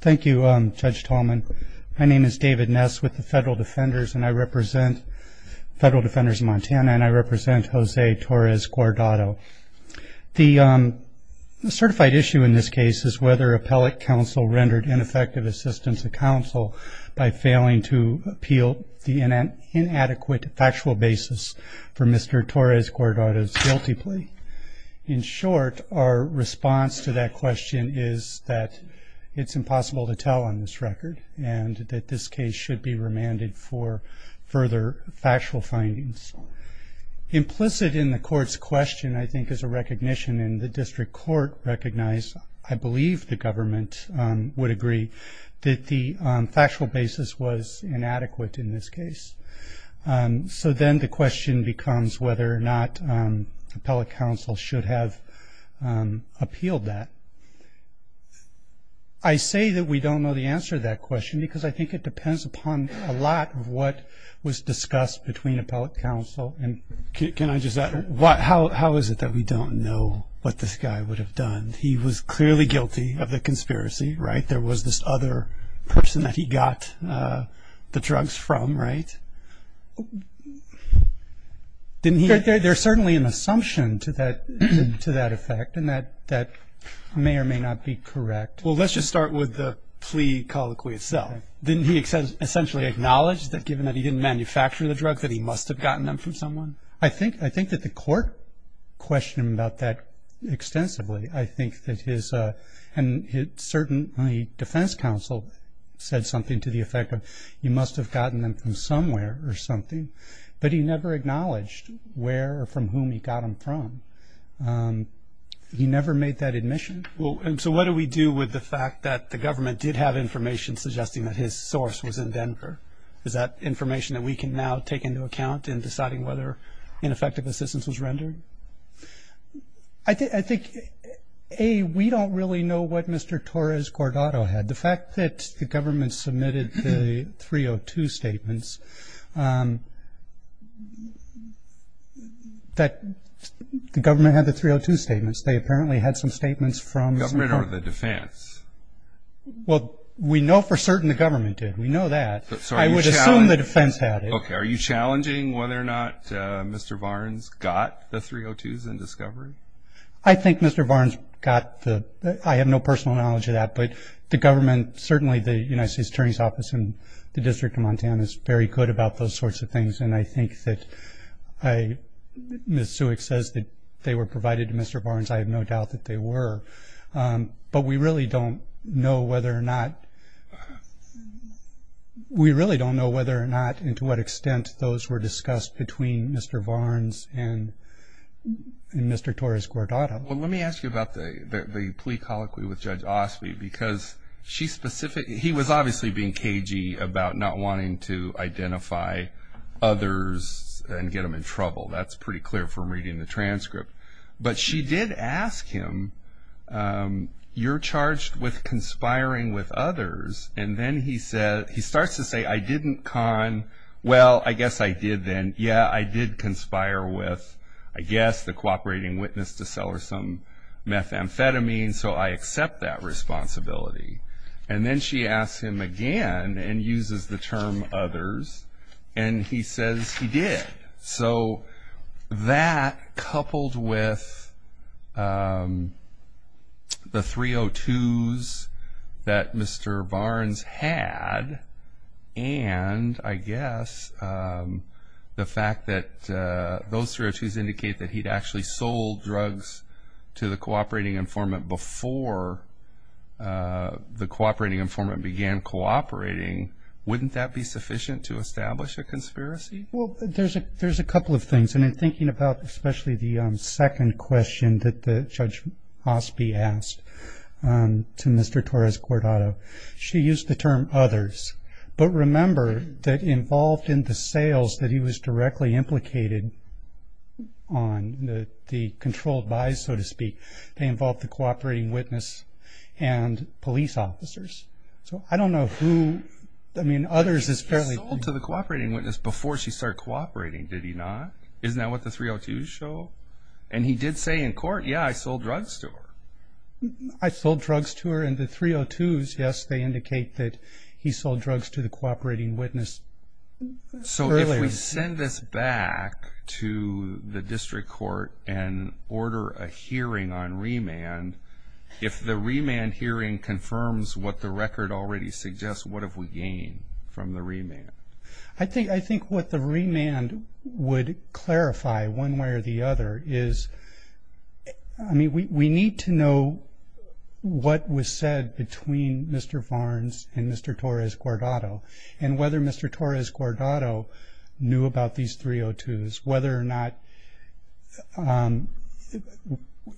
Thank you, Judge Tallman. My name is David Ness with the Federal Defenders of Montana, and I represent Jose Torres-Guardado. The certified issue in this case is whether appellate counsel rendered ineffective assistance to counsel by failing to appeal the inadequate factual basis for Mr. Torres-Guardado's guilty plea. In short, our response to that question is that it's impossible to tell on this record, and that this case should be remanded for further factual findings. Implicit in the court's question, I think, is a recognition, and the district court recognized, I believe the government would agree, that the factual basis was inadequate in this case. So then the question becomes whether or not appellate counsel should have appealed that. I say that we don't know the answer to that question because I think it depends upon a lot of what was discussed between appellate counsel. And can I just ask, how is it that we don't know what this guy would have done? He was clearly guilty of the conspiracy, right? There was this other person that he got the drugs from, right? There's certainly an assumption to that effect, and that may or may not be correct. Well, let's just start with the plea colloquy itself. Didn't he essentially acknowledge that given that he didn't manufacture the drugs, that he must have gotten them from someone? I think that the court questioned him about that extensively. I think that his, and certainly defense counsel, said something to the effect of, you must have gotten them from somewhere or something. But he never acknowledged where or from whom he got them from. He never made that admission. So what do we do with the fact that the government did have information suggesting that his source was in Denver? Is that information that we can now take into account in deciding whether ineffective assistance was rendered? I think, A, we don't really know what Mr. Torres-Cordato had. The fact that the government submitted the 302 statements, that the government had the 302 statements. They apparently had some statements from the court. The government or the defense? Well, we know for certain the government did. We know that. I would assume the defense had it. Okay. Are you challenging whether or not Mr. Barnes got the 302s in discovery? I think Mr. Barnes got the – I have no personal knowledge of that. But the government, certainly the United States Attorney's Office and the District of Montana is very good about those sorts of things. And I think that Ms. Suick says that they were provided to Mr. Barnes. I have no doubt that they were. But we really don't know whether or not – we really don't know whether or not and to what extent those were discussed between Mr. Barnes and Mr. Torres-Cordato. Well, let me ask you about the plea colloquy with Judge Osby because she specifically – he was obviously being cagey about not wanting to identify others and get them in trouble. That's pretty clear from reading the transcript. But she did ask him, you're charged with conspiring with others. And then he starts to say, I didn't con – well, I guess I did then. Yeah, I did conspire with, I guess, the cooperating witness to sell her some methamphetamine, so I accept that responsibility. And then she asks him again and uses the term others, and he says he did. So that, coupled with the 302s that Mr. Barnes had and, I guess, the fact that those 302s indicate that he'd actually sold drugs to the cooperating informant before the cooperating informant began cooperating, wouldn't that be sufficient to establish a conspiracy? Well, there's a couple of things. And in thinking about especially the second question that Judge Osby asked to Mr. Torres-Cordato, she used the term others. But remember that involved in the sales that he was directly implicated on, the controlled buys, so to speak, they involved the cooperating witness and police officers. So I don't know who – I mean, others is fairly – he sold to the cooperating witness before she started cooperating, did he not? Isn't that what the 302s show? And he did say in court, yeah, I sold drugs to her. I sold drugs to her, and the 302s, yes, they indicate that he sold drugs to the cooperating witness earlier. So if we send this back to the district court and order a hearing on remand, if the remand hearing confirms what the record already suggests, what have we gained from the remand? I think what the remand would clarify one way or the other is, I mean, we need to know what was said between Mr. Varnes and Mr. Torres-Cordato and whether Mr. Torres-Cordato knew about these 302s, whether or not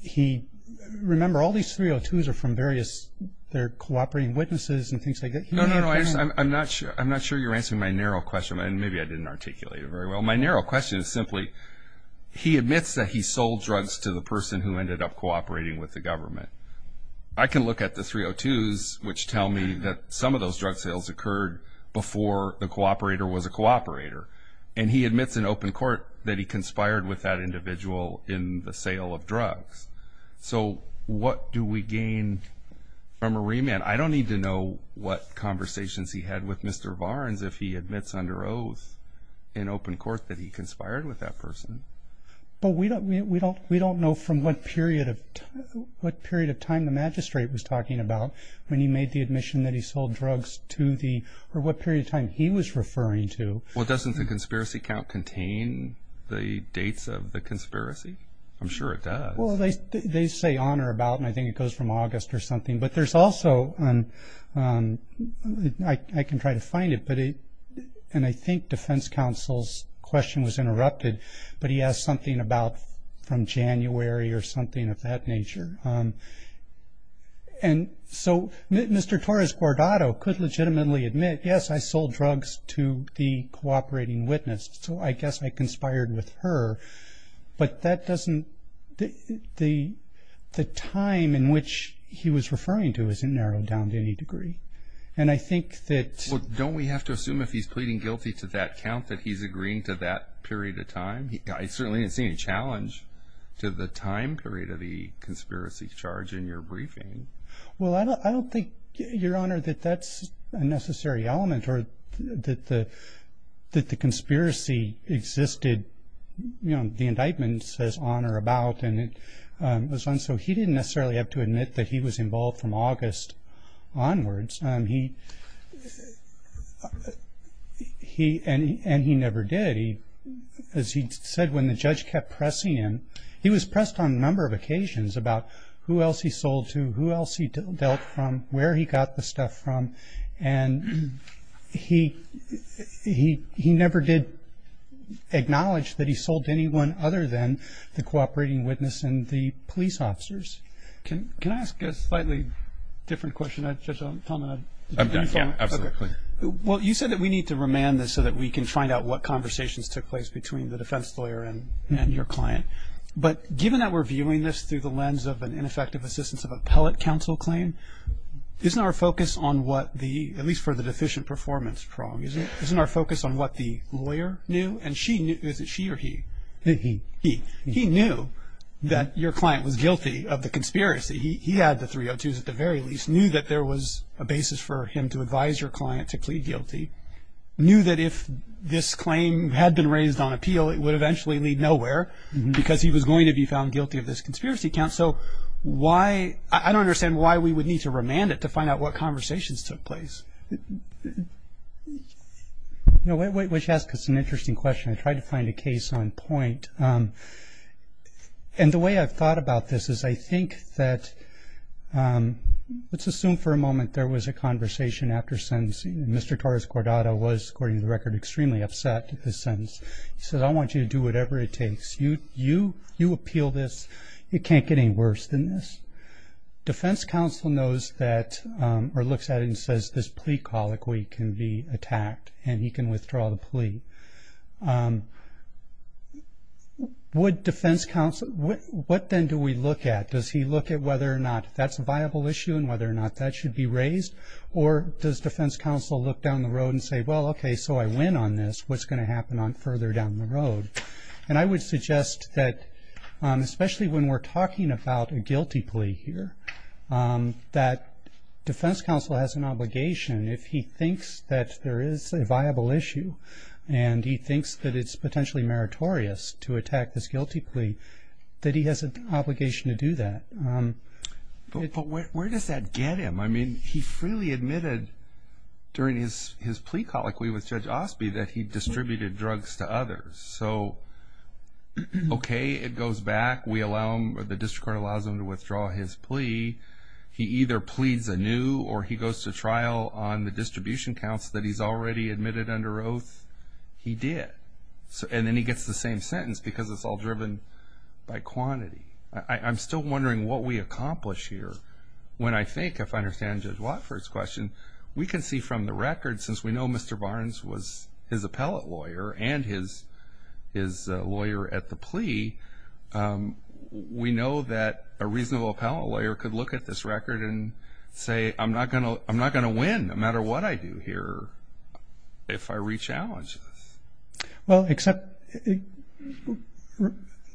he – remember, all these 302s are from various – they're cooperating witnesses and things like that. No, no, no, I understand. I'm not sure you're answering my narrow question, and maybe I didn't articulate it very well. My narrow question is simply, he admits that he sold drugs to the person who ended up cooperating with the government. I can look at the 302s, which tell me that some of those drug sales occurred before the cooperator was a cooperator, and he admits in open court that he conspired with that individual in the sale of drugs. So what do we gain from a remand? I don't need to know what conversations he had with Mr. Varnes if he admits under oath in open court that he conspired with that person. But we don't know from what period of time the magistrate was talking about when he made the admission that he sold drugs to the – or what period of time he was referring to. Well, doesn't the conspiracy count contain the dates of the conspiracy? I'm sure it does. Well, they say on or about, and I think it goes from August or something. But there's also – I can try to find it, and I think defense counsel's question was interrupted, but he asked something about from January or something of that nature. And so Mr. Torres-Guardado could legitimately admit, yes, I sold drugs to the cooperating witness, so I guess I conspired with her. But that doesn't – the time in which he was referring to isn't narrowed down to any degree. And I think that – Well, don't we have to assume if he's pleading guilty to that count that he's agreeing to that period of time? I certainly didn't see any challenge to the time period of the conspiracy charge in your briefing. Well, I don't think, Your Honor, that that's a necessary element or that the conspiracy existed – you know, the indictment says on or about, and it was on, so he didn't necessarily have to admit that he was involved from August onwards. And he never did. As he said, when the judge kept pressing him – he was pressed on a number of occasions about who else he sold to, who else he dealt from, where he got the stuff from. And he never did acknowledge that he sold to anyone other than the cooperating witness and the police officers. Can I ask a slightly different question? Judge Talman, did you want to follow up? Yeah, absolutely. Well, you said that we need to remand this so that we can find out what conversations took place between the defense lawyer and your client. But given that we're viewing this through the lens of an ineffective assistance of appellate counsel claim, isn't our focus on what the – at least for the deficient performance problem – isn't our focus on what the lawyer knew? And she knew – is it she or he? He. He. He knew that your client was guilty of the conspiracy. He had the 302s at the very least, knew that there was a basis for him to advise your client to plead guilty, knew that if this claim had been raised on appeal, it would eventually lead nowhere because he was going to be found guilty of this conspiracy count. So why – I don't understand why we would need to remand it to find out what conversations took place. Why don't you ask us an interesting question? I tried to find a case on point. And the way I've thought about this is I think that – let's assume for a moment there was a conversation after sentence. Mr. Torres-Guardado was, according to the record, extremely upset at this sentence. He said, I want you to do whatever it takes. You appeal this. It can't get any worse than this. Defense counsel knows that – or looks at it and says, this plea colloquy can be attacked and he can withdraw the plea. Would defense counsel – what then do we look at? Does he look at whether or not that's a viable issue and whether or not that should be raised? Or does defense counsel look down the road and say, well, okay, so I win on this. What's going to happen further down the road? And I would suggest that, especially when we're talking about a guilty plea here, that defense counsel has an obligation. If he thinks that there is a viable issue and he thinks that it's potentially meritorious to attack this guilty plea, that he has an obligation to do that. But where does that get him? I mean, he freely admitted during his plea colloquy with Judge Osby that he distributed drugs to others. So, okay, it goes back. We allow him – or the district court allows him to withdraw his plea. He either pleads anew or he goes to trial on the distribution counts that he's already admitted under oath. He did. And then he gets the same sentence because it's all driven by quantity. I'm still wondering what we accomplish here when I think, if I understand Judge Watford's question, we can see from the record, since we know Mr. Barnes was his appellate lawyer and his lawyer at the plea, we know that a reasonable appellate lawyer could look at this record and say, I'm not going to win no matter what I do here if I re-challenge this. Well, except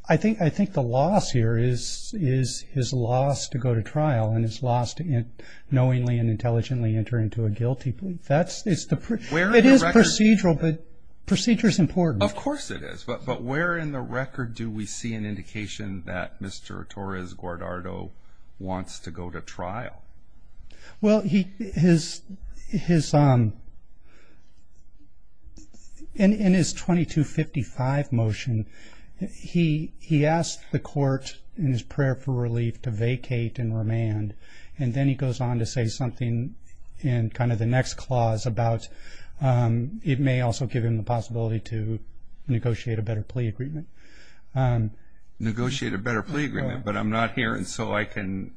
I think the loss here is his loss to go to trial and his loss to knowingly and intelligently enter into a guilty plea. It is procedural, but procedure is important. Of course it is. But where in the record do we see an indication that Mr. Torres Guardado wants to go to trial? Well, in his 2255 motion, he asked the court in his prayer for relief to vacate and remand, and then he goes on to say something in kind of the next clause about it may also give him the possibility to negotiate a better plea agreement. Negotiate a better plea agreement, but I'm not here, and so I can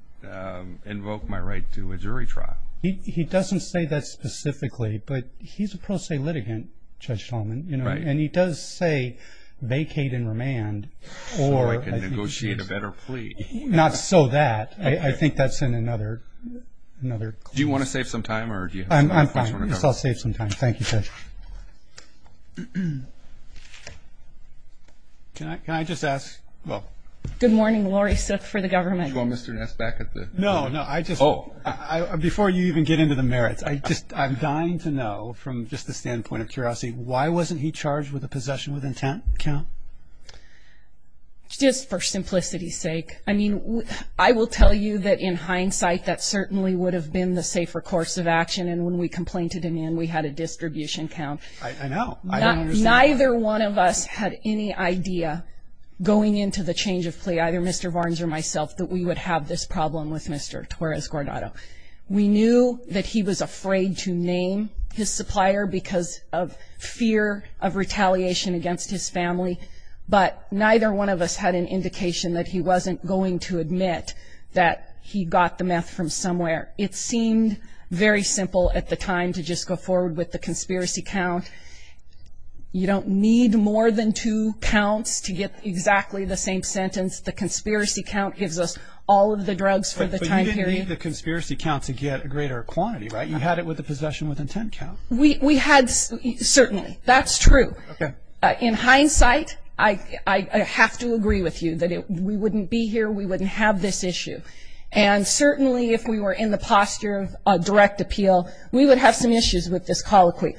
invoke my right to a jury trial. He doesn't say that specifically, but he's a pro se litigant, Judge Shulman, and he does say vacate and remand. So I can negotiate a better plea. Not so that. I think that's in another clause. Do you want to save some time? I'm fine. I'll save some time. Thank you, Judge. Can I just ask? Good morning. Lori Suth for the government. Do you want Mr. Ness back at the? No, no. Before you even get into the merits, I'm dying to know from just the standpoint of curiosity, why wasn't he charged with a possession with intent count? Just for simplicity's sake. I mean, I will tell you that in hindsight, that certainly would have been the safer course of action, and when we complained to demand, we had a distribution count. I know. Neither one of us had any idea going into the change of plea, either Mr. Barnes or myself, that we would have this problem with Mr. Torres-Guardado. We knew that he was afraid to name his supplier because of fear of retaliation against his family, but neither one of us had an indication that he wasn't going to admit that he got the meth from somewhere. It seemed very simple at the time to just go forward with the conspiracy count. You don't need more than two counts to get exactly the same sentence. The conspiracy count gives us all of the drugs for the time period. You didn't need the conspiracy count to get a greater quantity, right? You had it with the possession with intent count. We had certainly. That's true. Okay. In hindsight, I have to agree with you that we wouldn't be here, we wouldn't have this issue, and certainly if we were in the posture of direct appeal, we would have some issues with this colloquy.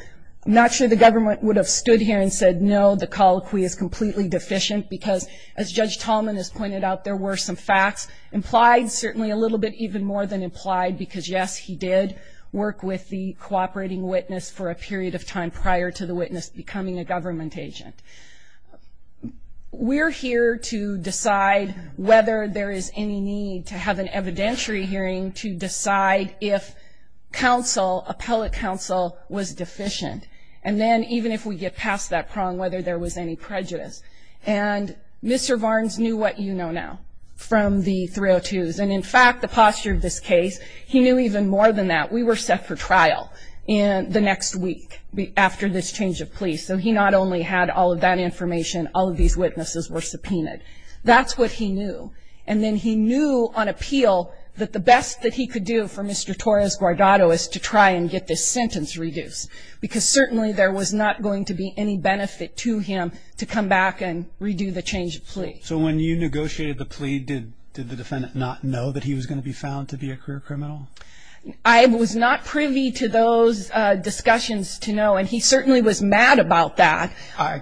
I'm not sure the government would have stood here and said, no, the colloquy is completely deficient, because as Judge Tallman has pointed out, there were some facts implied, certainly a little bit even more than implied, because, yes, he did work with the cooperating witness for a period of time prior to the witness becoming a government agent. We're here to decide whether there is any need to have an evidentiary hearing to decide if counsel, appellate counsel, was deficient. And then even if we get past that prong, whether there was any prejudice. And Mr. Varnes knew what you know now from the 302s. And, in fact, the posture of this case, he knew even more than that. We were set for trial the next week after this change of police. So he not only had all of that information, all of these witnesses were subpoenaed. That's what he knew. And then he knew on appeal that the best that he could do for Mr. Torres-Guardado is to try and get this sentence reduced, because certainly there was not going to be any benefit to him to come back and redo the change of plea. So when you negotiated the plea, did the defendant not know that he was going to be found to be a career criminal? I was not privy to those discussions to know. And he certainly was mad about that.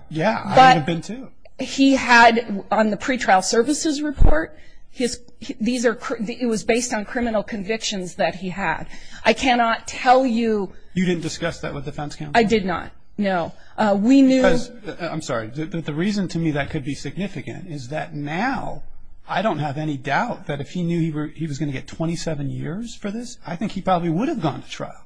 Yeah, I would have been too. But he had, on the pretrial services report, it was based on criminal convictions that he had. I cannot tell you. You didn't discuss that with the defense counsel? I did not, no. We knew. I'm sorry. The reason to me that could be significant is that now I don't have any doubt that if he knew he was going to get 27 years for this, I think he probably would have gone to trial.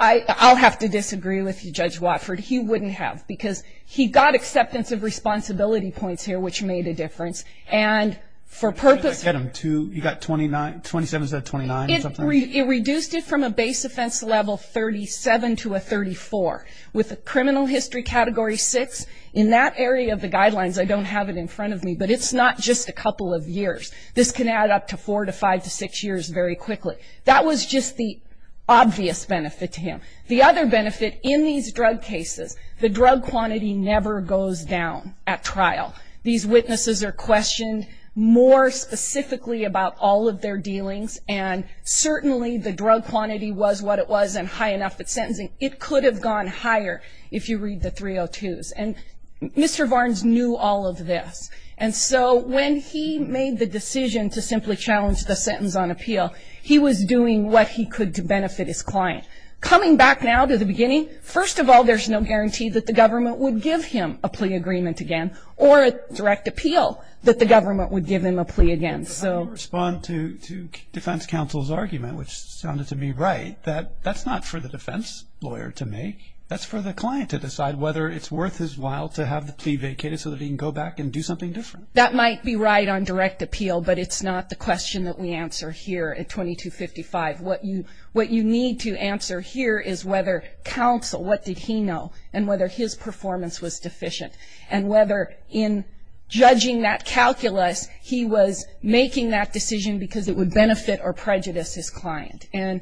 I'll have to disagree with you, Judge Watford. He wouldn't have, because he got acceptance of responsibility points here, which made a difference. And for purpose. You got 27 instead of 29 or something? It reduced it from a base offense level 37 to a 34. With a criminal history category 6, in that area of the guidelines I don't have it in front of me, but it's not just a couple of years. This can add up to four to five to six years very quickly. That was just the obvious benefit to him. The other benefit in these drug cases, the drug quantity never goes down at trial. These witnesses are questioned more specifically about all of their dealings and certainly the drug quantity was what it was and high enough at sentencing. It could have gone higher if you read the 302s. And Mr. Varnes knew all of this. And so when he made the decision to simply challenge the sentence on appeal, he was doing what he could to benefit his client. Coming back now to the beginning, first of all, there's no guarantee that the government would give him a plea agreement again or a direct appeal that the government would give him a plea again. But how do you respond to defense counsel's argument, which sounded to me right, that that's not for the defense lawyer to make. That's for the client to decide whether it's worth his while to have the plea vacated so that he can go back and do something different. That might be right on direct appeal, but it's not the question that we answer here at 2255. What you need to answer here is whether counsel, what did he know, and whether his performance was deficient, and whether in judging that calculus he was making that decision because it would benefit or prejudice his client. And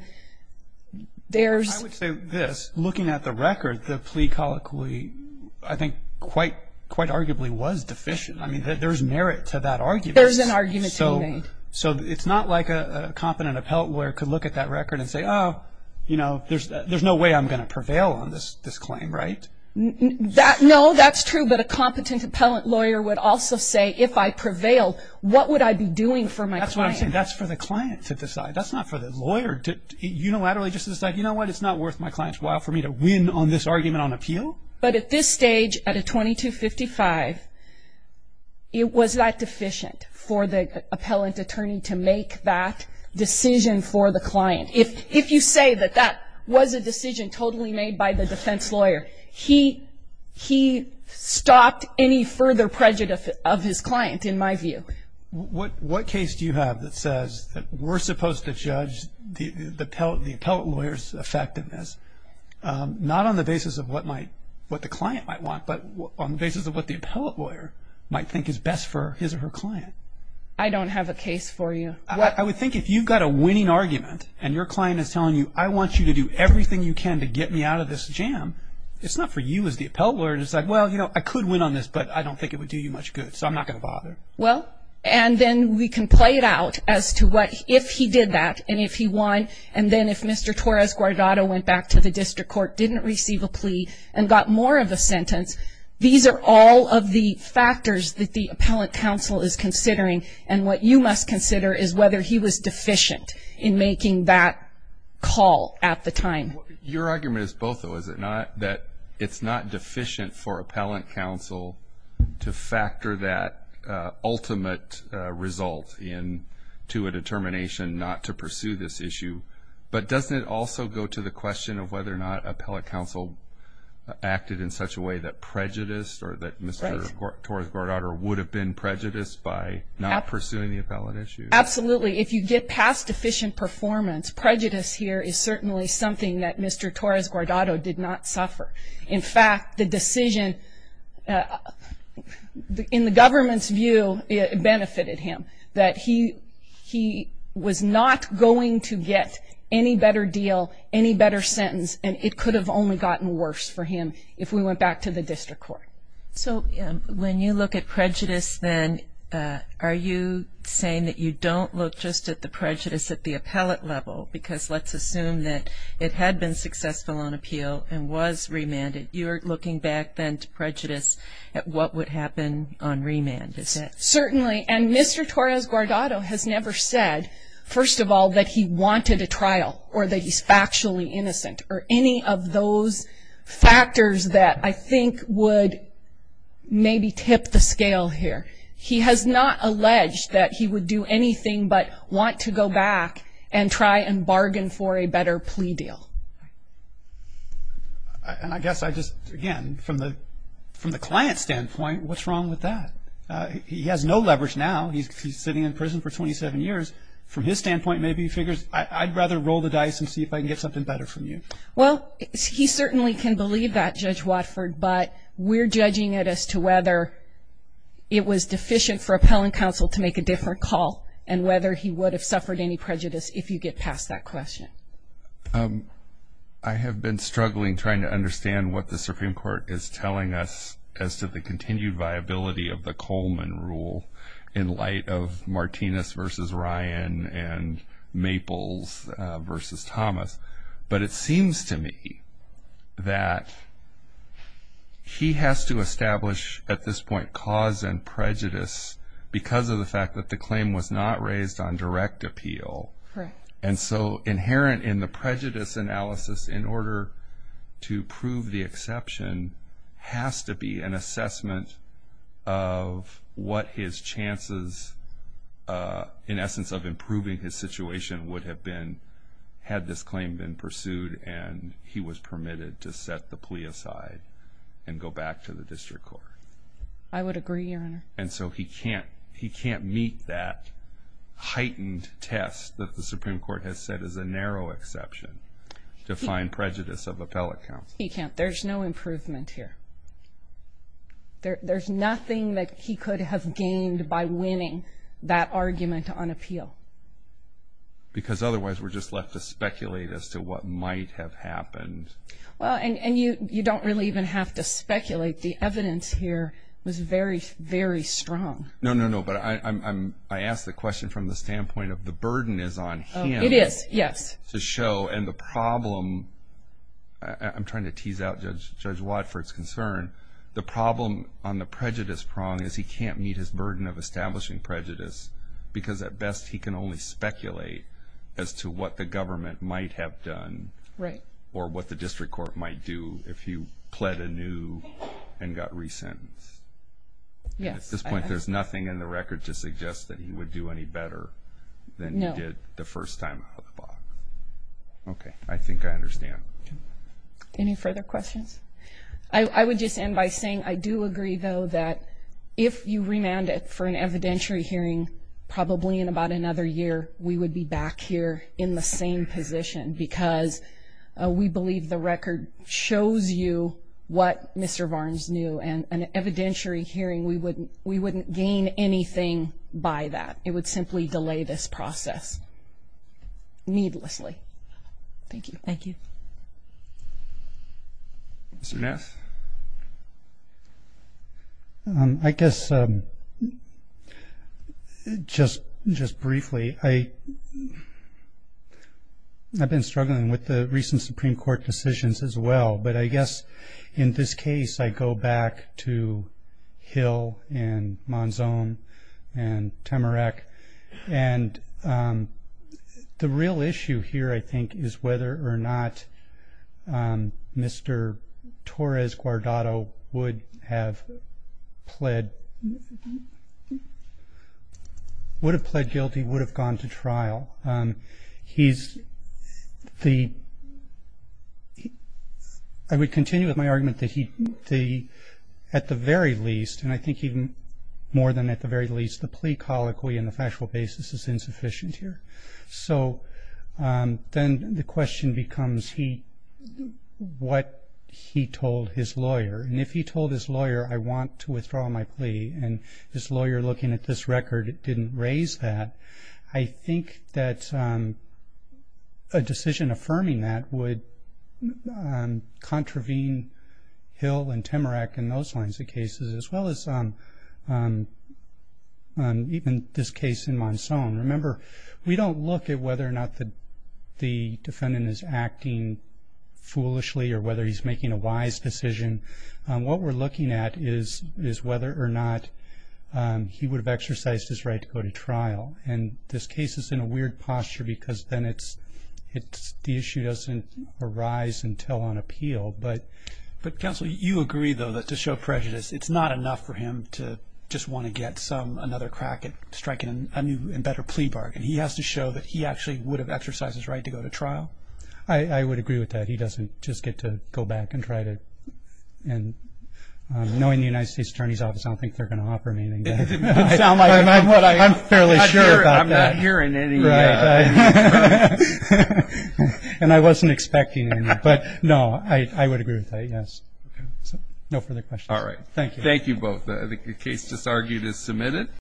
there's – I would say this. Looking at the record, the plea colloquy I think quite arguably was deficient. I mean, there's merit to that argument. There's an argument to be made. So it's not like a competent appellate lawyer could look at that record and say, oh, you know, there's no way I'm going to prevail on this claim, right? No, that's true. But a competent appellate lawyer would also say, if I prevail, what would I be doing for my client? That's what I'm saying. That's for the client to decide. That's not for the lawyer to unilaterally just decide, you know what, it's not worth my client's while for me to win on this argument on appeal. But at this stage, at a 2255, it was that deficient for the appellate attorney to make that decision for the client. If you say that that was a decision totally made by the defense lawyer, he stopped any further prejudice of his client in my view. What case do you have that says that we're supposed to judge the appellate lawyer's effectiveness, not on the basis of what the client might want, but on the basis of what the appellate lawyer might think is best for his or her client? I don't have a case for you. I would think if you've got a winning argument and your client is telling you, I want you to do everything you can to get me out of this jam, it's not for you as the appellate lawyer to decide, well, you know, I could win on this, but I don't think it would do you much good, so I'm not going to bother. Well, and then we can play it out as to what, if he did that and if he won, and then if Mr. Torres-Guardado went back to the district court, didn't receive a plea, and got more of a sentence, these are all of the factors that the appellate counsel is considering. And what you must consider is whether he was deficient in making that call at the time. Your argument is both, though, is it not, that it's not deficient for appellate counsel to factor that ultimate result into a determination not to pursue this issue, but doesn't it also go to the question of whether or not appellate counsel acted in such a way that prejudice or that Mr. Torres-Guardado would have been prejudiced by not pursuing the appellate issue? Absolutely. If you get past deficient performance, prejudice here is certainly something that Mr. Torres-Guardado did not suffer. In fact, the decision, in the government's view, benefited him, that he was not going to get any better deal, any better sentence, and it could have only gotten worse for him if we went back to the district court. So when you look at prejudice then, are you saying that you don't look just at the prejudice at the appellate level? Because let's assume that it had been successful on appeal and was remanded. You're looking back then to prejudice at what would happen on remand, is that it? Certainly. And Mr. Torres-Guardado has never said, first of all, that he wanted a trial, or that he's factually innocent, or any of those factors that I think would maybe tip the scale here. He has not alleged that he would do anything but want to go back and try and bargain for a better plea deal. And I guess I just, again, from the client's standpoint, what's wrong with that? He has no leverage now. He's sitting in prison for 27 years. From his standpoint, maybe he figures, I'd rather roll the dice and see if I can get something better from you. Well, he certainly can believe that, Judge Watford, but we're judging it as to whether it was deficient for appellant counsel to make a different call and whether he would have suffered any prejudice if you get past that question. I have been struggling trying to understand what the Supreme Court is telling us as to the continued viability of the Coleman rule in light of Martinez v. Ryan and Maples v. Thomas. But it seems to me that he has to establish, at this point, cause and prejudice because of the fact that the claim was not raised on direct appeal. And so inherent in the prejudice analysis, in order to prove the exception, has to be an assessment of what his chances, in essence, of improving his situation would have been had this claim been pursued and he was permitted to set the plea aside and go back to the district court. I would agree, Your Honor. And so he can't meet that heightened test that the Supreme Court has set as a narrow exception to find prejudice of appellate counsel. He can't. There's no improvement here. There's nothing that he could have gained by winning that argument on appeal. Because otherwise we're just left to speculate as to what might have happened. Well, and you don't really even have to speculate. The evidence here was very, very strong. No, no, no. But I ask the question from the standpoint of the burden is on him. It is, yes. To show. And the problem, I'm trying to tease out Judge Watford's concern, the problem on the prejudice prong is he can't meet his burden of establishing prejudice because at best he can only speculate as to what the government might have done. Right. Or what the district court might do if he pled anew and got resentenced. Yes. At this point there's nothing in the record to suggest that he would do any better than he did the first time before. Okay. I think I understand. Any further questions? I would just end by saying I do agree, though, that if you remanded for an evidentiary hearing probably in about another year, we would be back here in the same position because we believe the record shows you what Mr. Varnes knew. And an evidentiary hearing, we wouldn't gain anything by that. It would simply delay this process needlessly. Thank you. Mr. Ness? I guess just briefly, I've been struggling with the recent Supreme Court decisions as well, but I guess in this case I go back to Hill and Monzon and Temerack, and the real issue here, I think, is whether or not Mr. Torres Guardado would have pled guilty, would have gone to trial. I would continue with my argument that at the very least, and I think even more than at the very least, the plea colloquy and the factual basis is insufficient here. So then the question becomes what he told his lawyer, and if he told his lawyer, I want to withdraw my plea and this lawyer looking at this record didn't raise that, I think that a decision affirming that would contravene Hill and Temerack and those kinds of cases as well as even this case in Monzon. Remember, we don't look at whether or not the defendant is acting foolishly or whether he's making a wise decision. What we're looking at is whether or not he would have exercised his right to go to trial. And this case is in a weird posture because then the issue doesn't arise until on appeal. But counsel, you agree, though, that to show prejudice, it's not enough for him to just want to get another crack at striking a new and better plea bargain. He has to show that he actually would have exercised his right to go to trial. I would agree with that. He doesn't just get to go back and try to. And knowing the United States Attorney's Office, I don't think they're going to offer me anything. I'm fairly sure about that. I'm not hearing anything. And I wasn't expecting anything. But, no, I would agree with that, yes. No further questions. All right. Thank you. Thank you both. The case just argued is submitted.